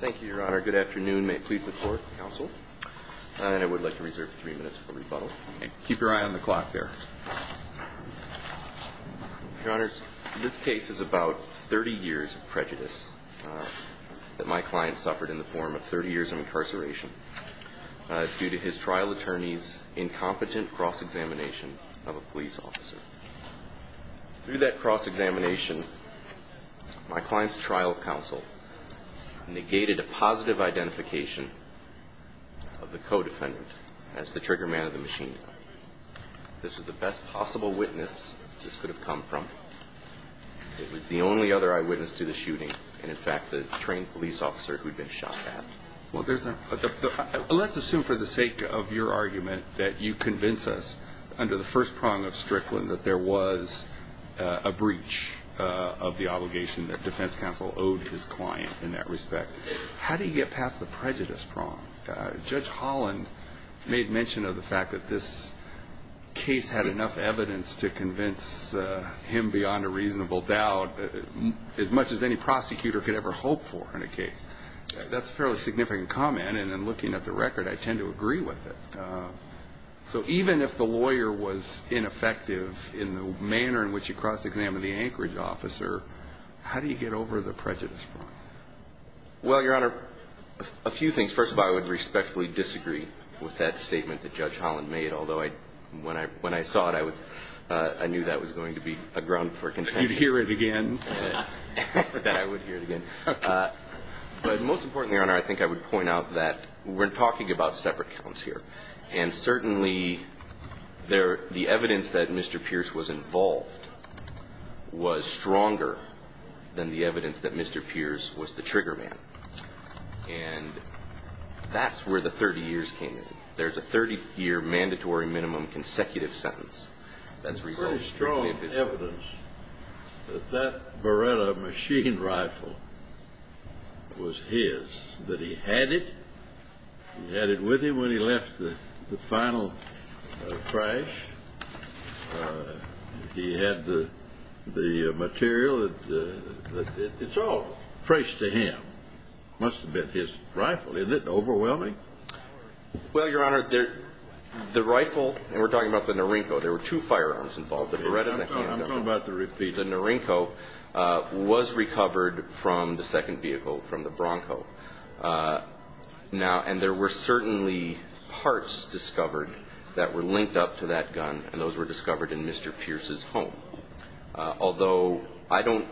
Thank you, Your Honor. Good afternoon. May it please the Court, Counsel, and I would like to reserve three minutes for rebuttal. Keep your eye on the clock there. Your Honors, this case is about 30 years of prejudice that my client suffered in the form of 30 years of incarceration due to his trial attorney's incompetent cross-examination of a police officer. Through that cross-examination, my client's trial counsel negated a positive identification of the co-defendant as the trigger man of the machine gun. This was the best possible witness this could have come from. It was the only other eyewitness to the shooting, and in fact, the trained police officer who had been shot at. Well, there's a – let's assume for the sake of your argument that you convince us, under the first prong of Strickland, that there was a breach of the obligation that defense counsel owed his client in that respect. How do you get past the prejudice prong? Judge Holland made mention of the fact that this case had enough evidence to convince him beyond a reasonable doubt, as much as any prosecutor could ever hope for in a case. That's a fairly significant comment, and in looking at the record, I tend to agree with it. And so even if the lawyer was ineffective in the manner in which you cross-examined the Anchorage officer, how do you get over the prejudice prong? Well, Your Honor, a few things. First of all, I would respectfully disagree with that statement that Judge Holland made, although when I saw it, I knew that was going to be a ground for contempt. You'd hear it again. I would hear it again. But most importantly, Your Honor, I think I would point out that we're talking about separate counts here. And certainly, the evidence that Mr. Pierce was involved was stronger than the evidence that Mr. Pierce was the trigger man. And that's where the 30 years came in. There's a 30-year mandatory minimum consecutive sentence. That's resulting from the evidence. There's pretty strong evidence that that Beretta machine rifle was his, that he had it. He had it with him when he left the final crash. He had the material. It's all traced to him. It must have been his rifle. Isn't it overwhelming? Well, Your Honor, the rifle, and we're talking about the Norinco, there were two firearms involved. I'm talking about the repeat. The Norinco was recovered from the second vehicle, from the Bronco. Now, and there were certainly parts discovered that were linked up to that gun, and those were discovered in Mr. Pierce's home. Although I don't,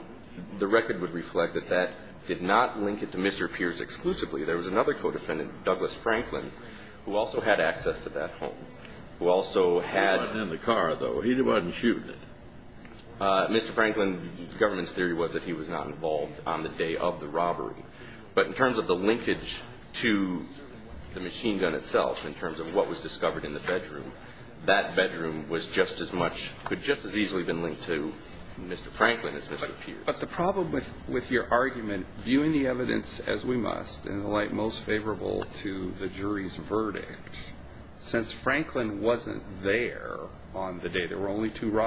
the record would reflect that that did not link it to Mr. Pierce exclusively. There was another co-defendant, Douglas Franklin, who also had access to that home, who also had He wasn't in the car, though. He wasn't shooting it. Mr. Franklin, the government's theory was that he was not involved on the day of the robbery. But in terms of the linkage to the machine gun itself, in terms of what was discovered in the bedroom, that bedroom was just as much, could just as easily have been linked to Mr. Franklin as Mr. Pierce. But the problem with your argument, viewing the evidence as we must, and the light most favorable to the jury's verdict, since Franklin wasn't there on the day, there were only two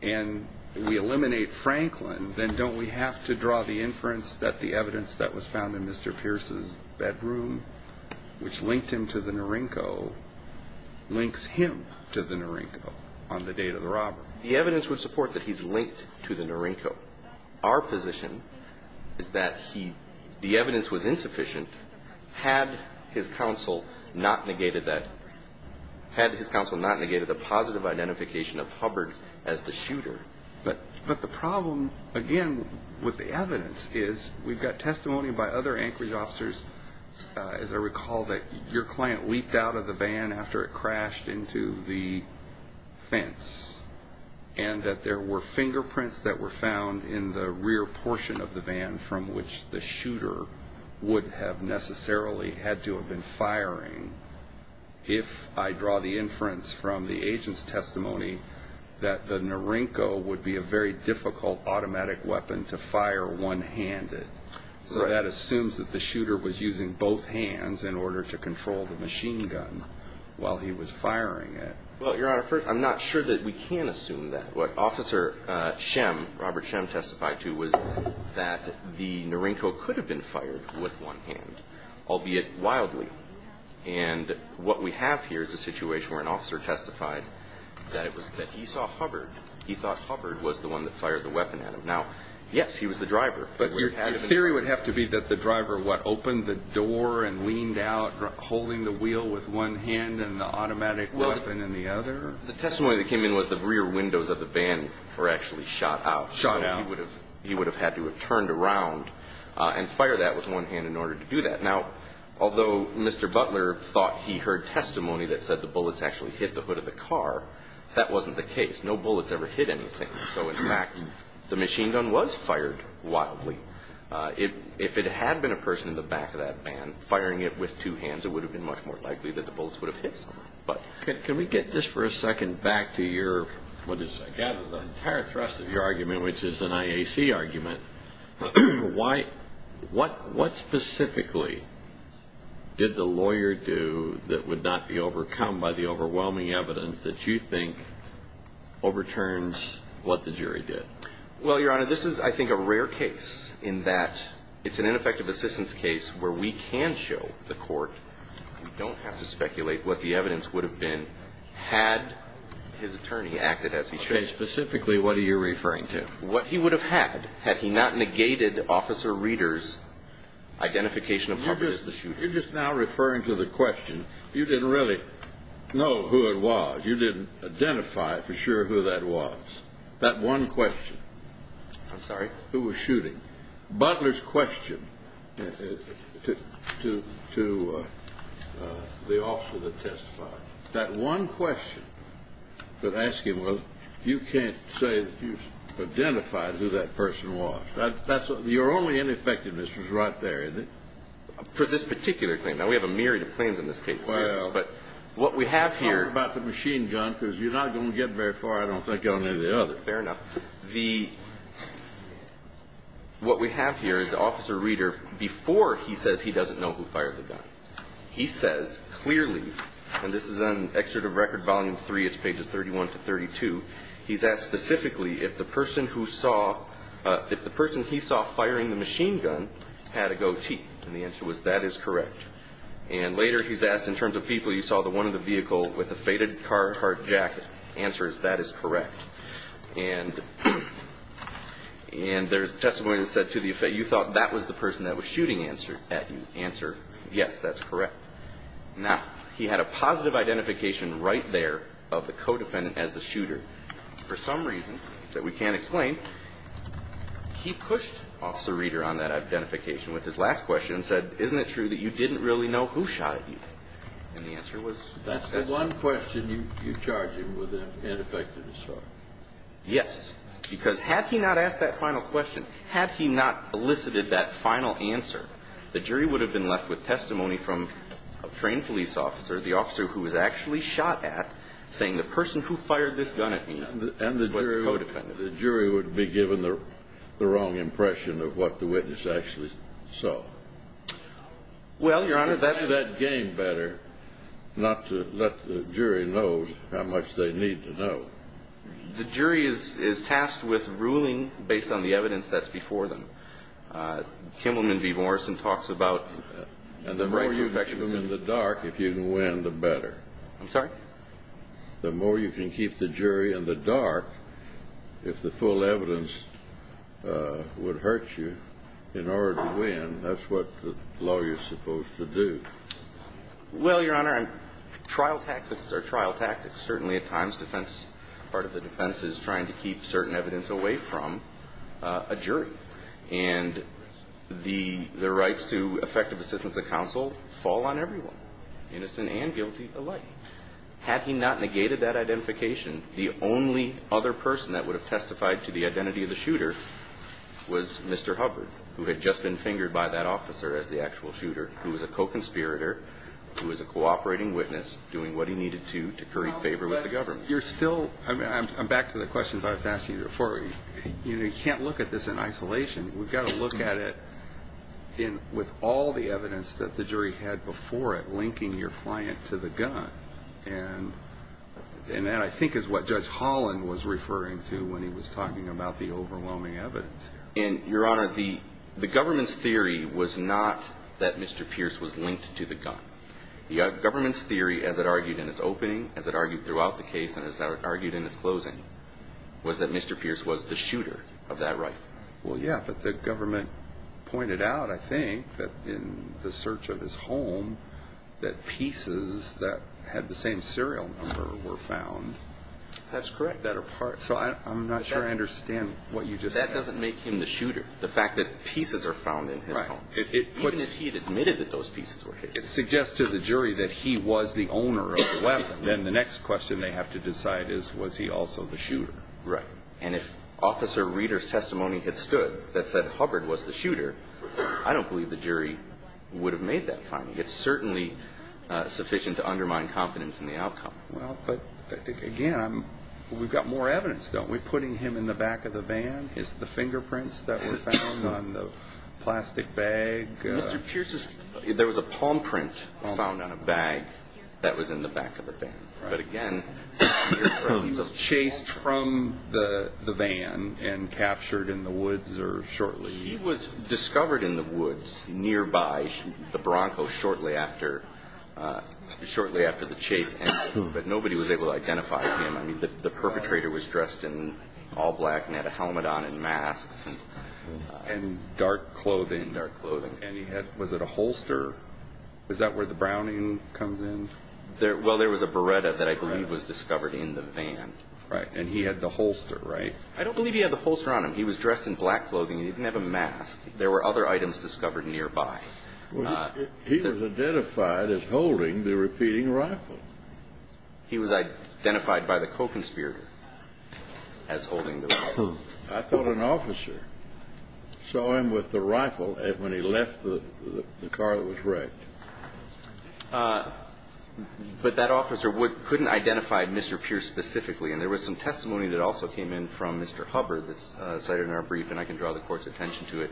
and we eliminate Franklin, then don't we have to draw the inference that the evidence that was found in Mr. Pierce's bedroom, which linked him to the Norinco, links him to the Norinco on the date of the robbery? The evidence would support that he's linked to the Norinco. Our position is that he, the evidence was insufficient had his counsel not negated that, had his counsel not negated the positive identification of Hubbard as the shooter. But the problem, again, with the evidence is we've got testimony by other Anchorage officers, as I recall, that your client leaped out of the van after it crashed into the fence and that there were fingerprints that were found in the rear portion of the van from which the shooter would have necessarily had to have been firing. If I draw the inference from the agent's testimony that the Norinco would be a very difficult automatic weapon to fire one-handed, so that assumes that the shooter was using both hands in order to control the machine gun while he was firing it. Well, Your Honor, I'm not sure that we can assume that. What Officer Schemm, Robert Schemm testified to was that the Norinco could have been fired with one hand, albeit wildly. And what we have here is a situation where an officer testified that he saw Hubbard. He thought Hubbard was the one that fired the weapon at him. Now, yes, he was the driver. But your theory would have to be that the driver, what, opened the door and leaned out, holding the wheel with one hand and the automatic weapon in the other? The testimony that came in was the rear windows of the van were actually shot out. Shot out. He would have had to have turned around and fire that with one hand in order to do that. Now, although Mr. Butler thought he heard testimony that said the bullets actually hit the hood of the car, that wasn't the case. No bullets ever hit anything. So, in fact, the machine gun was fired wildly. If it had been a person in the back of that van firing it with two hands, it would have been much more likely that the bullets would have hit someone. But can we get this for a second back to your, what is, I gather, the entire thrust of your argument. Why, what specifically did the lawyer do that would not be overcome by the overwhelming evidence that you think overturns what the jury did? Well, Your Honor, this is, I think, a rare case in that it's an ineffective assistance case where we can show the court, we don't have to speculate what the evidence would have been, had his attorney acted as he should. Okay. Specifically, what are you referring to? What he would have had, had he not negated Officer Reeder's identification of Harper as the shooter. You're just now referring to the question. You didn't really know who it was. You didn't identify for sure who that was. That one question. I'm sorry? Who was shooting. Butler's question to the officer that testified. That one question to ask him was, you can't say that you've identified who that person was. That's, your only ineffectiveness was right there, isn't it? For this particular claim. Now, we have a myriad of claims in this case, but what we have here. Well, talk about the machine gun because you're not going to get very far, I don't think, on any of the others. Fair enough. The, what we have here is Officer Reeder, before he says he doesn't know who he is, he has the gun. He's got it in his hands. He's got a knife. He's got a gun. He's Now, if you look at Page 33. It's pages 31 to 32. He's asked specifically if the person who saw, if the person he saw firing the machine gun had a goatee. And the answer was that is correct. And later, he's asked in terms of people. He saw the one of the vehicle with a faded car, hard jacket. Answer is that is correct. And there's testimony that said to the effect, you thought that was the person that was shooting at you. Answer, yes, that's correct. Now, he had a positive identification right there of the co-defendant as a shooter. For some reason that we can't explain, he pushed Officer Reeder on that identification with his last question and said, isn't it true that you didn't really know who shot at you? And the answer was, that's the one question you charged him with an ineffective Yes. Because had he not asked that final question, had he not elicited that final answer, the jury would have been left with testimony from a trained police officer, the officer who was actually shot at, saying the person who fired this gun at me was the co-defendant. And the jury would be given the wrong impression of what the witness actually saw. Well, Your Honor, that game better not to let the jury know how much they need to know. The jury is tasked with ruling based on the evidence that's before them. Kimmelman v. Morrison talks about the right to infectious disease. And the more you can keep in the dark, if you can win, the better. I'm sorry? The more you can keep the jury in the dark, if the full evidence would hurt you in order to win, that's what the law is supposed to do. Well, Your Honor, trial tactics are trial tactics. Certainly, at times, part of the defense is trying to keep certain evidence away from a jury. And the rights to effective assistance of counsel fall on everyone, innocent and guilty alike. Had he not negated that identification, the only other person that would have testified to the identity of the defendant would have been fingered by that officer as the actual shooter, who was a co-conspirator, who was a cooperating witness, doing what he needed to, to curry favor with the government. I'm back to the questions I was asking you before. You can't look at this in isolation. We've got to look at it with all the evidence that the jury had before it, linking your client to the gun. And that, I think, is what Judge Holland was referring to when he was talking about the overwhelming evidence. And, Your Honor, the government's theory was not that Mr. Pierce was linked to the gun. The government's theory, as it argued in its opening, as it argued throughout the case, and as it argued in its closing, was that Mr. Pierce was the shooter of that rifle. Well, yeah, but the government pointed out, I think, that in the search of his home, that pieces that had the same serial number were found. That's correct. So I'm not sure I understand what you just said. Well, that doesn't make him the shooter, the fact that pieces are found in his home. Right. Even if he had admitted that those pieces were his. It suggests to the jury that he was the owner of the weapon. Then the next question they have to decide is, was he also the shooter? Right. And if Officer Reeder's testimony had stood, that said Hubbard was the shooter, I don't believe the jury would have made that finding. It's certainly sufficient to undermine confidence in the outcome. Well, but, again, we've got more evidence, don't we? Putting him in the back of the van, the fingerprints that were found on the plastic bag. Mr. Pierce's, there was a palm print found on a bag that was in the back of the van. Right. But, again, he was chased from the van and captured in the woods shortly. He was discovered in the woods nearby the Bronco shortly after the chase, but nobody was able to identify him. The perpetrator was dressed in all black and had a helmet on and masks. And dark clothing. And dark clothing. And he had, was it a holster? Was that where the browning comes in? Well, there was a beretta that I believe was discovered in the van. Right. And he had the holster, right? I don't believe he had the holster on him. He was dressed in black clothing. He didn't have a mask. There were other items discovered nearby. He was identified as holding the repeating rifle. He was identified by the co-conspirator as holding the rifle. I thought an officer saw him with the rifle when he left the car that was wrecked. But that officer couldn't identify Mr. Pierce specifically. And there was some testimony that also came in from Mr. Hubbard that's cited in our brief, and I can draw the Court's attention to it,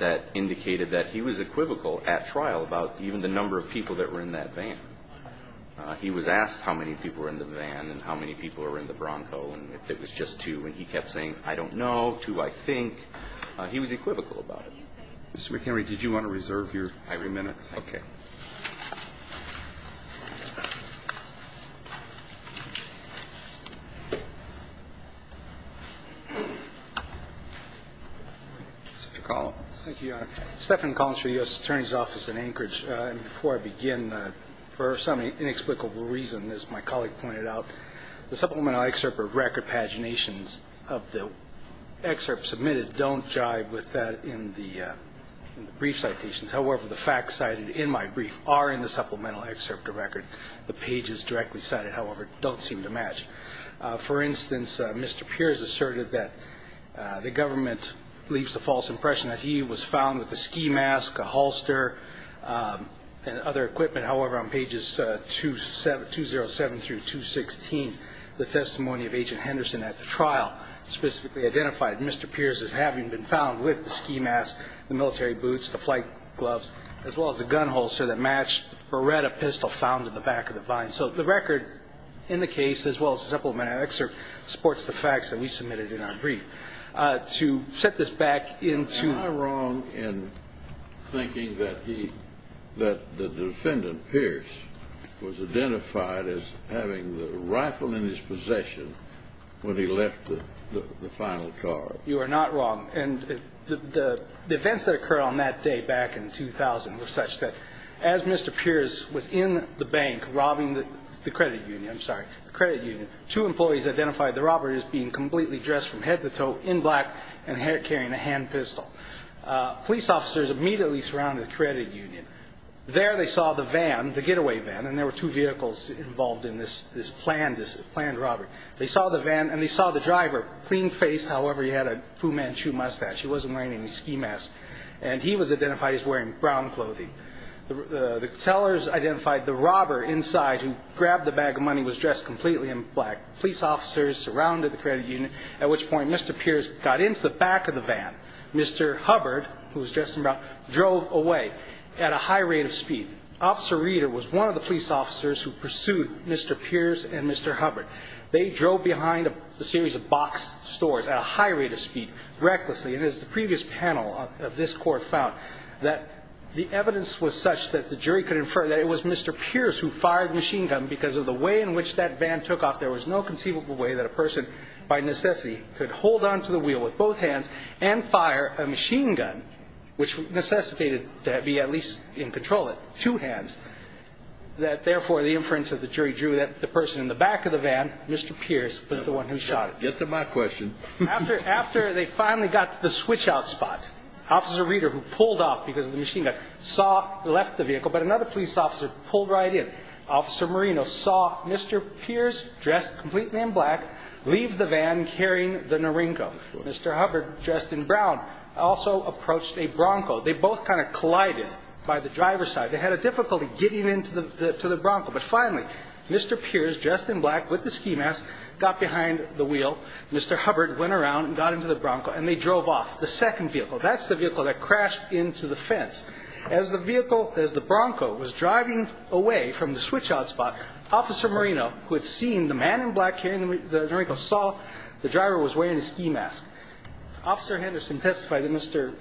that indicated that he was equivocal at trial about even the number of people that were in that van. He was asked how many people were in the van and how many people were in the Bronco and if it was just two, and he kept saying, I don't know, two, I think. He was equivocal about it. Mr. McHenry, did you want to reserve your irony minutes? Mr. Collins. Thank you, Your Honor. Stephen Collins for the U.S. Attorney's Office in Anchorage. Before I begin, for some inexplicable reason, as my colleague pointed out, the supplemental excerpt of record paginations of the excerpt submitted don't jive with that in the brief citations. However, the facts cited in my brief are in the supplemental excerpt of record. The pages directly cited, however, don't seem to match. For instance, Mr. Pierce asserted that the government leaves a false impression that he was found with a ski mask, a holster, and other equipment. However, on pages 207 through 216, the testimony of Agent Henderson at the trial specifically identified Mr. Pierce as having been found with the ski mask, the military boots, the flight gloves, as well as the gun holster that matched or read a pistol found in the back of the van. So the record in the case, as well as the supplemental excerpt, supports the facts that we submitted in our brief. To set this back into... Am I wrong in thinking that the defendant, Pierce, was identified as having the rifle in his possession when he left the final car? You are not wrong. And the events that occurred on that day, back in 2000, were such that as Mr. Pierce was in the bank robbing the credit union, I'm sorry, the credit union, two employees identified the robber as being completely dressed from head to toe, in black, and carrying a hand pistol. Police officers immediately surrounded the credit union. There they saw the van, the getaway van, and there were two vehicles involved in this planned robbery. They saw the van and they saw the driver, clean-faced, however he had a Fu Manchu mustache. He wasn't wearing any ski masks. And he was identified as wearing brown clothing. The tellers identified the robber inside, who grabbed the bag of money, was dressed completely in black. Police officers surrounded the credit union, at which point Mr. Pierce got into the back of the van. Mr. Hubbard, who was dressed in brown, drove away at a high rate of speed. Officer Reeder was one of the police officers who pursued Mr. Pierce and Mr. Hubbard. They drove behind a series of box stores at a high rate of speed, recklessly. And as the previous panel of this court found, the evidence was such that the jury could infer that it was Mr. Pierce who fired the machine gun because of the way in which that van took off. There was no conceivable way that a person, by necessity, could hold onto the wheel with both hands and fire a machine gun, which necessitated to be at least in control with two hands. Therefore, the inference of the jury drew that the person in the back of the van, Mr. Pierce, was the one who shot it. Get to my question. After they finally got to the switch-out spot, Officer Reeder, who pulled off because of the machine gun, saw, left the vehicle, but another police officer pulled right in. Officer Marino saw Mr. Pierce, dressed completely in black, leave the van carrying the Norinco. Mr. Hubbard, dressed in brown, also approached a Bronco. They both kind of collided by the driver's side. They had a difficulty getting into the Bronco. But finally, Mr. Pierce, dressed in black with the ski mask, got behind the wheel. Mr. Hubbard went around and got into the Bronco, and they drove off. The second vehicle, that's the vehicle that crashed into the fence. As the vehicle, as the Bronco was driving away from the switch-out spot, Officer Marino, who had seen the man in black carrying the Norinco, saw the driver was wearing a ski mask. Officer Henderson testified that Mr.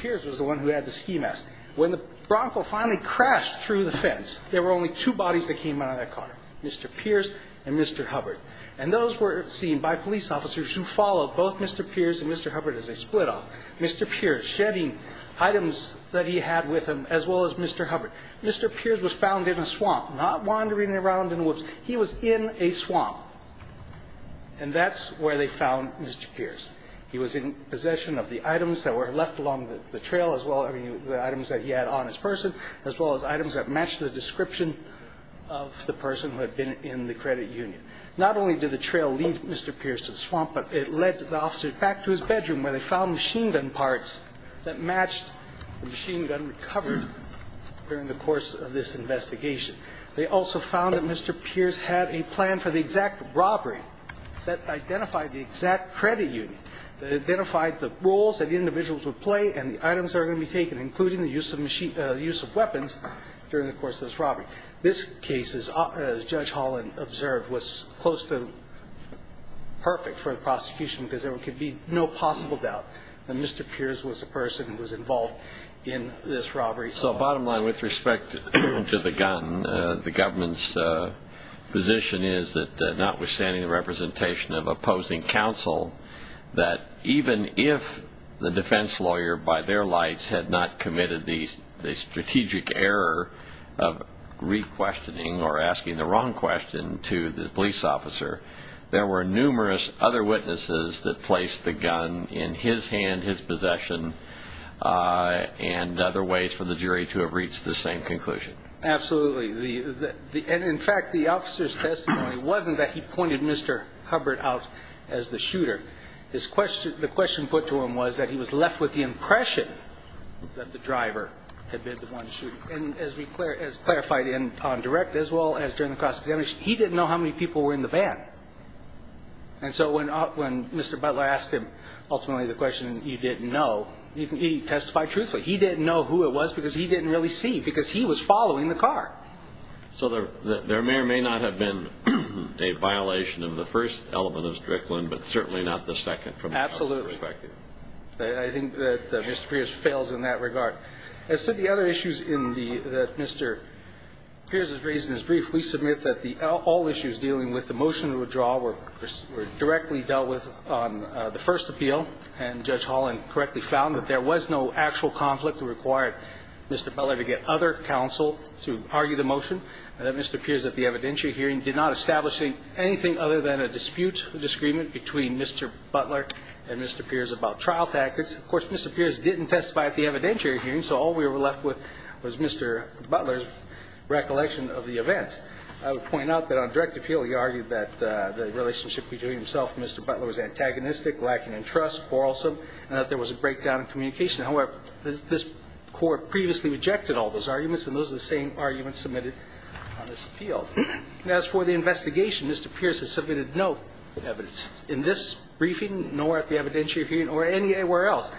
Pierce was the one who had the ski mask. When the Bronco finally crashed through the fence, there were only two bodies that came out of that car. Mr. Pierce and Mr. Hubbard. And those were seen by police officers who followed both Mr. Pierce and Mr. Hubbard as they split off. Mr. Pierce shedding items that he had with him as well as Mr. Hubbard. Mr. Pierce was found in a swamp, not wandering around in the woods. He was in a swamp. And that's where they found Mr. Pierce. He was in possession of the items that were left along the trail as well as the items that he had on his person as well as items that matched the description of the person who had been in the credit union. Not only did the trail lead Mr. Pierce to the swamp, but it led the officers back to his bedroom where they found machine gun parts that matched the machine gun recovered during the course of this investigation. They also found that Mr. Pierce had a plan for the exact robbery that identified the exact credit union that identified the roles that individuals would play and the items that were going to be taken including the use of weapons during the course of this robbery. This case, as Judge Holland observed, was close to perfect for the prosecution because there could be no possible doubt that Mr. Pierce was a person who was involved in this robbery. So bottom line, with respect to the gun, the government's position is that notwithstanding the representation of opposing counsel, that even if the defense lawyer, by their lights, had not committed the strategic error of re-questioning or asking the wrong question to the police officer, there were numerous other witnesses that placed the gun in his hand, his possession, and other ways for the jury to have reached the same conclusion. Absolutely. And in fact, the officer's testimony wasn't that he pointed Mr. Hubbard out as the shooter. The question put to him was that he was left with the impression that the driver had been the one shooting. And as clarified on direct as well as during the cross-examination, he didn't know how many people were in the van. And so when Mr. Butler asked him ultimately the question that he didn't know, he testified truthfully. He didn't know who it was because he didn't really see because he was following the car. So there may or may not have been a violation of the first element of Strickland, but certainly not the second. Absolutely. I think that Mr. Pierce fails in that regard. As to the other issues that Mr. Pierce has raised in his brief, we submit that all issues dealing with the motion to withdraw were directly dealt with on the first appeal, and Judge Holland correctly found that there was no actual conflict that required Mr. Butler to get other counsel to argue the motion, and that Mr. Pierce at the evidentiary hearing did not establish anything other than a dispute, a disagreement between Mr. Butler and Mr. Pierce about trial tactics. Of course, Mr. Pierce didn't testify at the evidentiary hearing, so all we were left with was Mr. Butler's recollection of the events. I would point out that on direct appeal he argued that the relationship between himself and Mr. Butler was antagonistic, lacking in trust, quarrelsome, and that there was a breakdown in communication. However, this Court previously rejected all those arguments, and those are the same arguments submitted on this appeal. As for the investigation, Mr. Pierce has submitted no evidence in this briefing, nor at the evidentiary hearing, or anywhere else,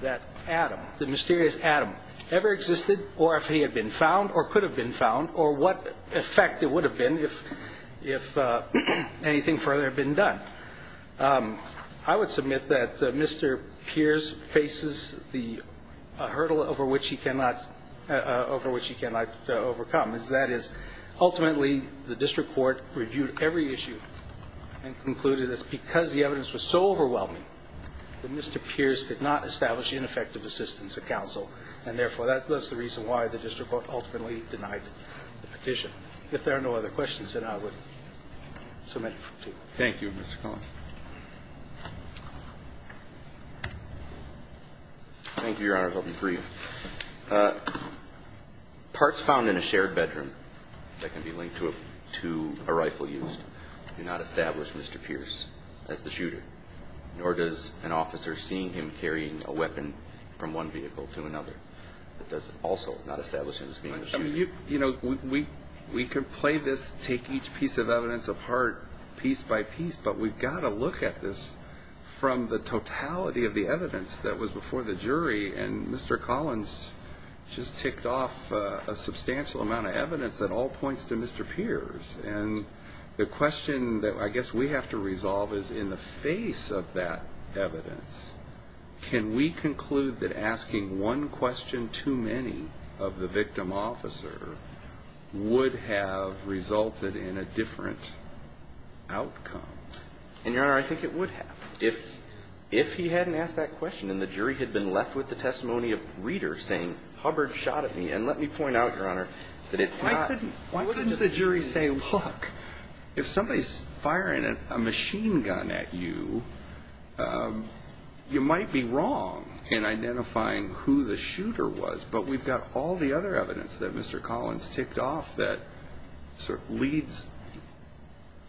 that Adam, the mysterious Adam, ever existed, or if he had been found, or could have been found, or what effect it would have been if anything further had been done. I would submit that Mr. Pierce faces the hurdle over which he cannot overcome, and that is ultimately the District Court reviewed every issue and concluded that because the evidence was so overwhelming that Mr. Pierce could not establish ineffective assistance at counsel, and therefore that was the reason why the District Court ultimately denied the petition. If there are no other questions, then I would submit it to you. Thank you, Mr. Cohen. Thank you, Your Honor. Parts found in a shared bedroom that can be linked to a rifle used do not establish Mr. Pierce as the shooter, nor does an officer seeing him carrying a weapon from one vehicle to another. That does also not establish him as being the shooter. We can play this take each piece of evidence apart piece by piece, but we've got to look at this from the totality of the evidence that was before the jury, and Mr. Collins just ticked off a substantial amount of evidence that all points to Mr. Pierce, and the question that I guess we have to resolve is in the face of that evidence, can we conclude that asking one question too many of the victim officer would have resulted in a different outcome? And Your Honor, I think it would have. If he hadn't asked that question and the jury had been left with the testimony of readers saying Hubbard shot at me, and let me point out, Your Honor, that it's not... Why couldn't the jury say, look, if somebody's firing a machine gun at you, you might be wrong in identifying who the shooter was, but we've got all the other evidence that Mr. Collins ticked off that sort of leads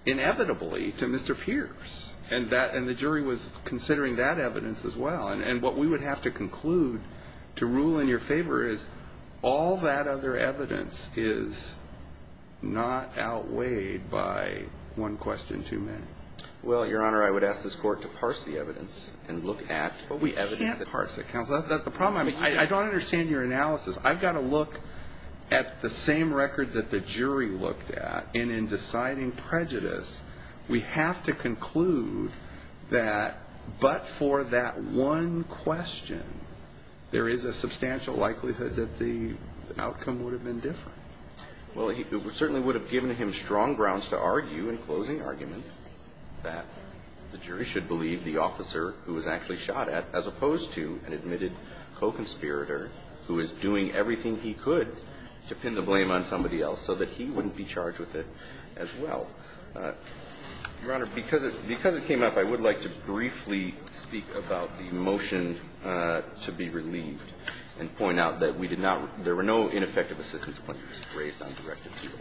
inevitably to Mr. Pierce, and the jury was considering that evidence as well, and what we would have to conclude to rule in your favor is all that other evidence is not outweighed by one question too many. Well, Your Honor, I would ask this Court to parse the evidence and look at what we evidence... The problem, I mean, I don't understand your analysis. I've got to look at the same record that the jury looked at, and in deciding prejudice, we have to conclude that but for that one question, there is a substantial likelihood that the Well, it certainly would have given him strong grounds to argue in closing argument that the jury should believe the officer who was actually shot at as opposed to an admitted co-conspirator who is doing everything he could to pin the blame on somebody else so that he wouldn't be charged with it as well. Your Honor, because it came up, I would like to briefly speak about the motion to be relieved and point out that we did not there were no ineffective assistance claims raised on direct appeal.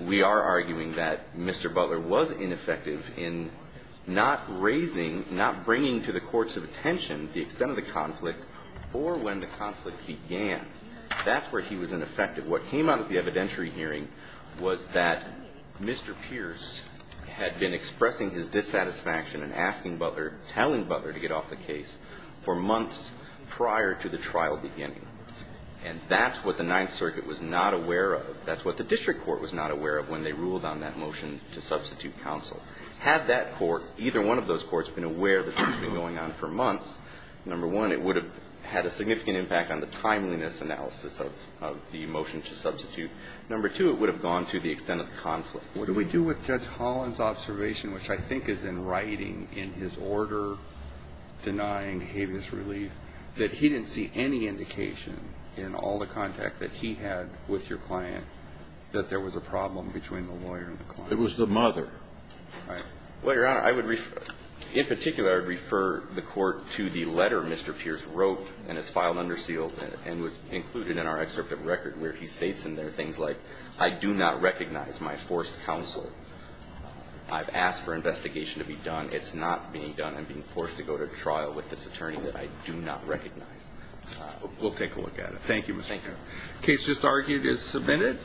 We are arguing that Mr. Butler was ineffective in not raising, not bringing to the courts of attention the extent of the conflict or when the conflict began. That's where he was ineffective. What came out of the evidentiary hearing was that Mr. Pierce had been expressing his dissatisfaction and asking Butler, telling Butler to get off the case for months prior to the trial beginning. And that's what the Ninth Circuit was not aware of. That's what the District Court was not aware of when they ruled on that motion to substitute counsel. Had that court, either one of those courts, been aware that this had been going on for months, number one, it would have had a significant impact on the timeliness analysis of the motion to substitute. Number two, it would have gone to the extent of the conflict. What do we do with Judge Holland's observation, which I think is in writing, in his order denying behaviorist relief, that he didn't see any indication in all the contact that he had with your client that there was a problem between the lawyer and the client? It was the mother. Right. Well, Your Honor, I would in particular refer the court to the letter Mr. Pierce wrote and has filed under seal and was included in our excerpt of record where he states in there things like, I do not recognize my forced counsel. I've asked for investigation to be done. It's not being done. I'm being forced to go to trial with this attorney that I do not recognize. We'll take a look at it. Thank you. The case just argued is submitted.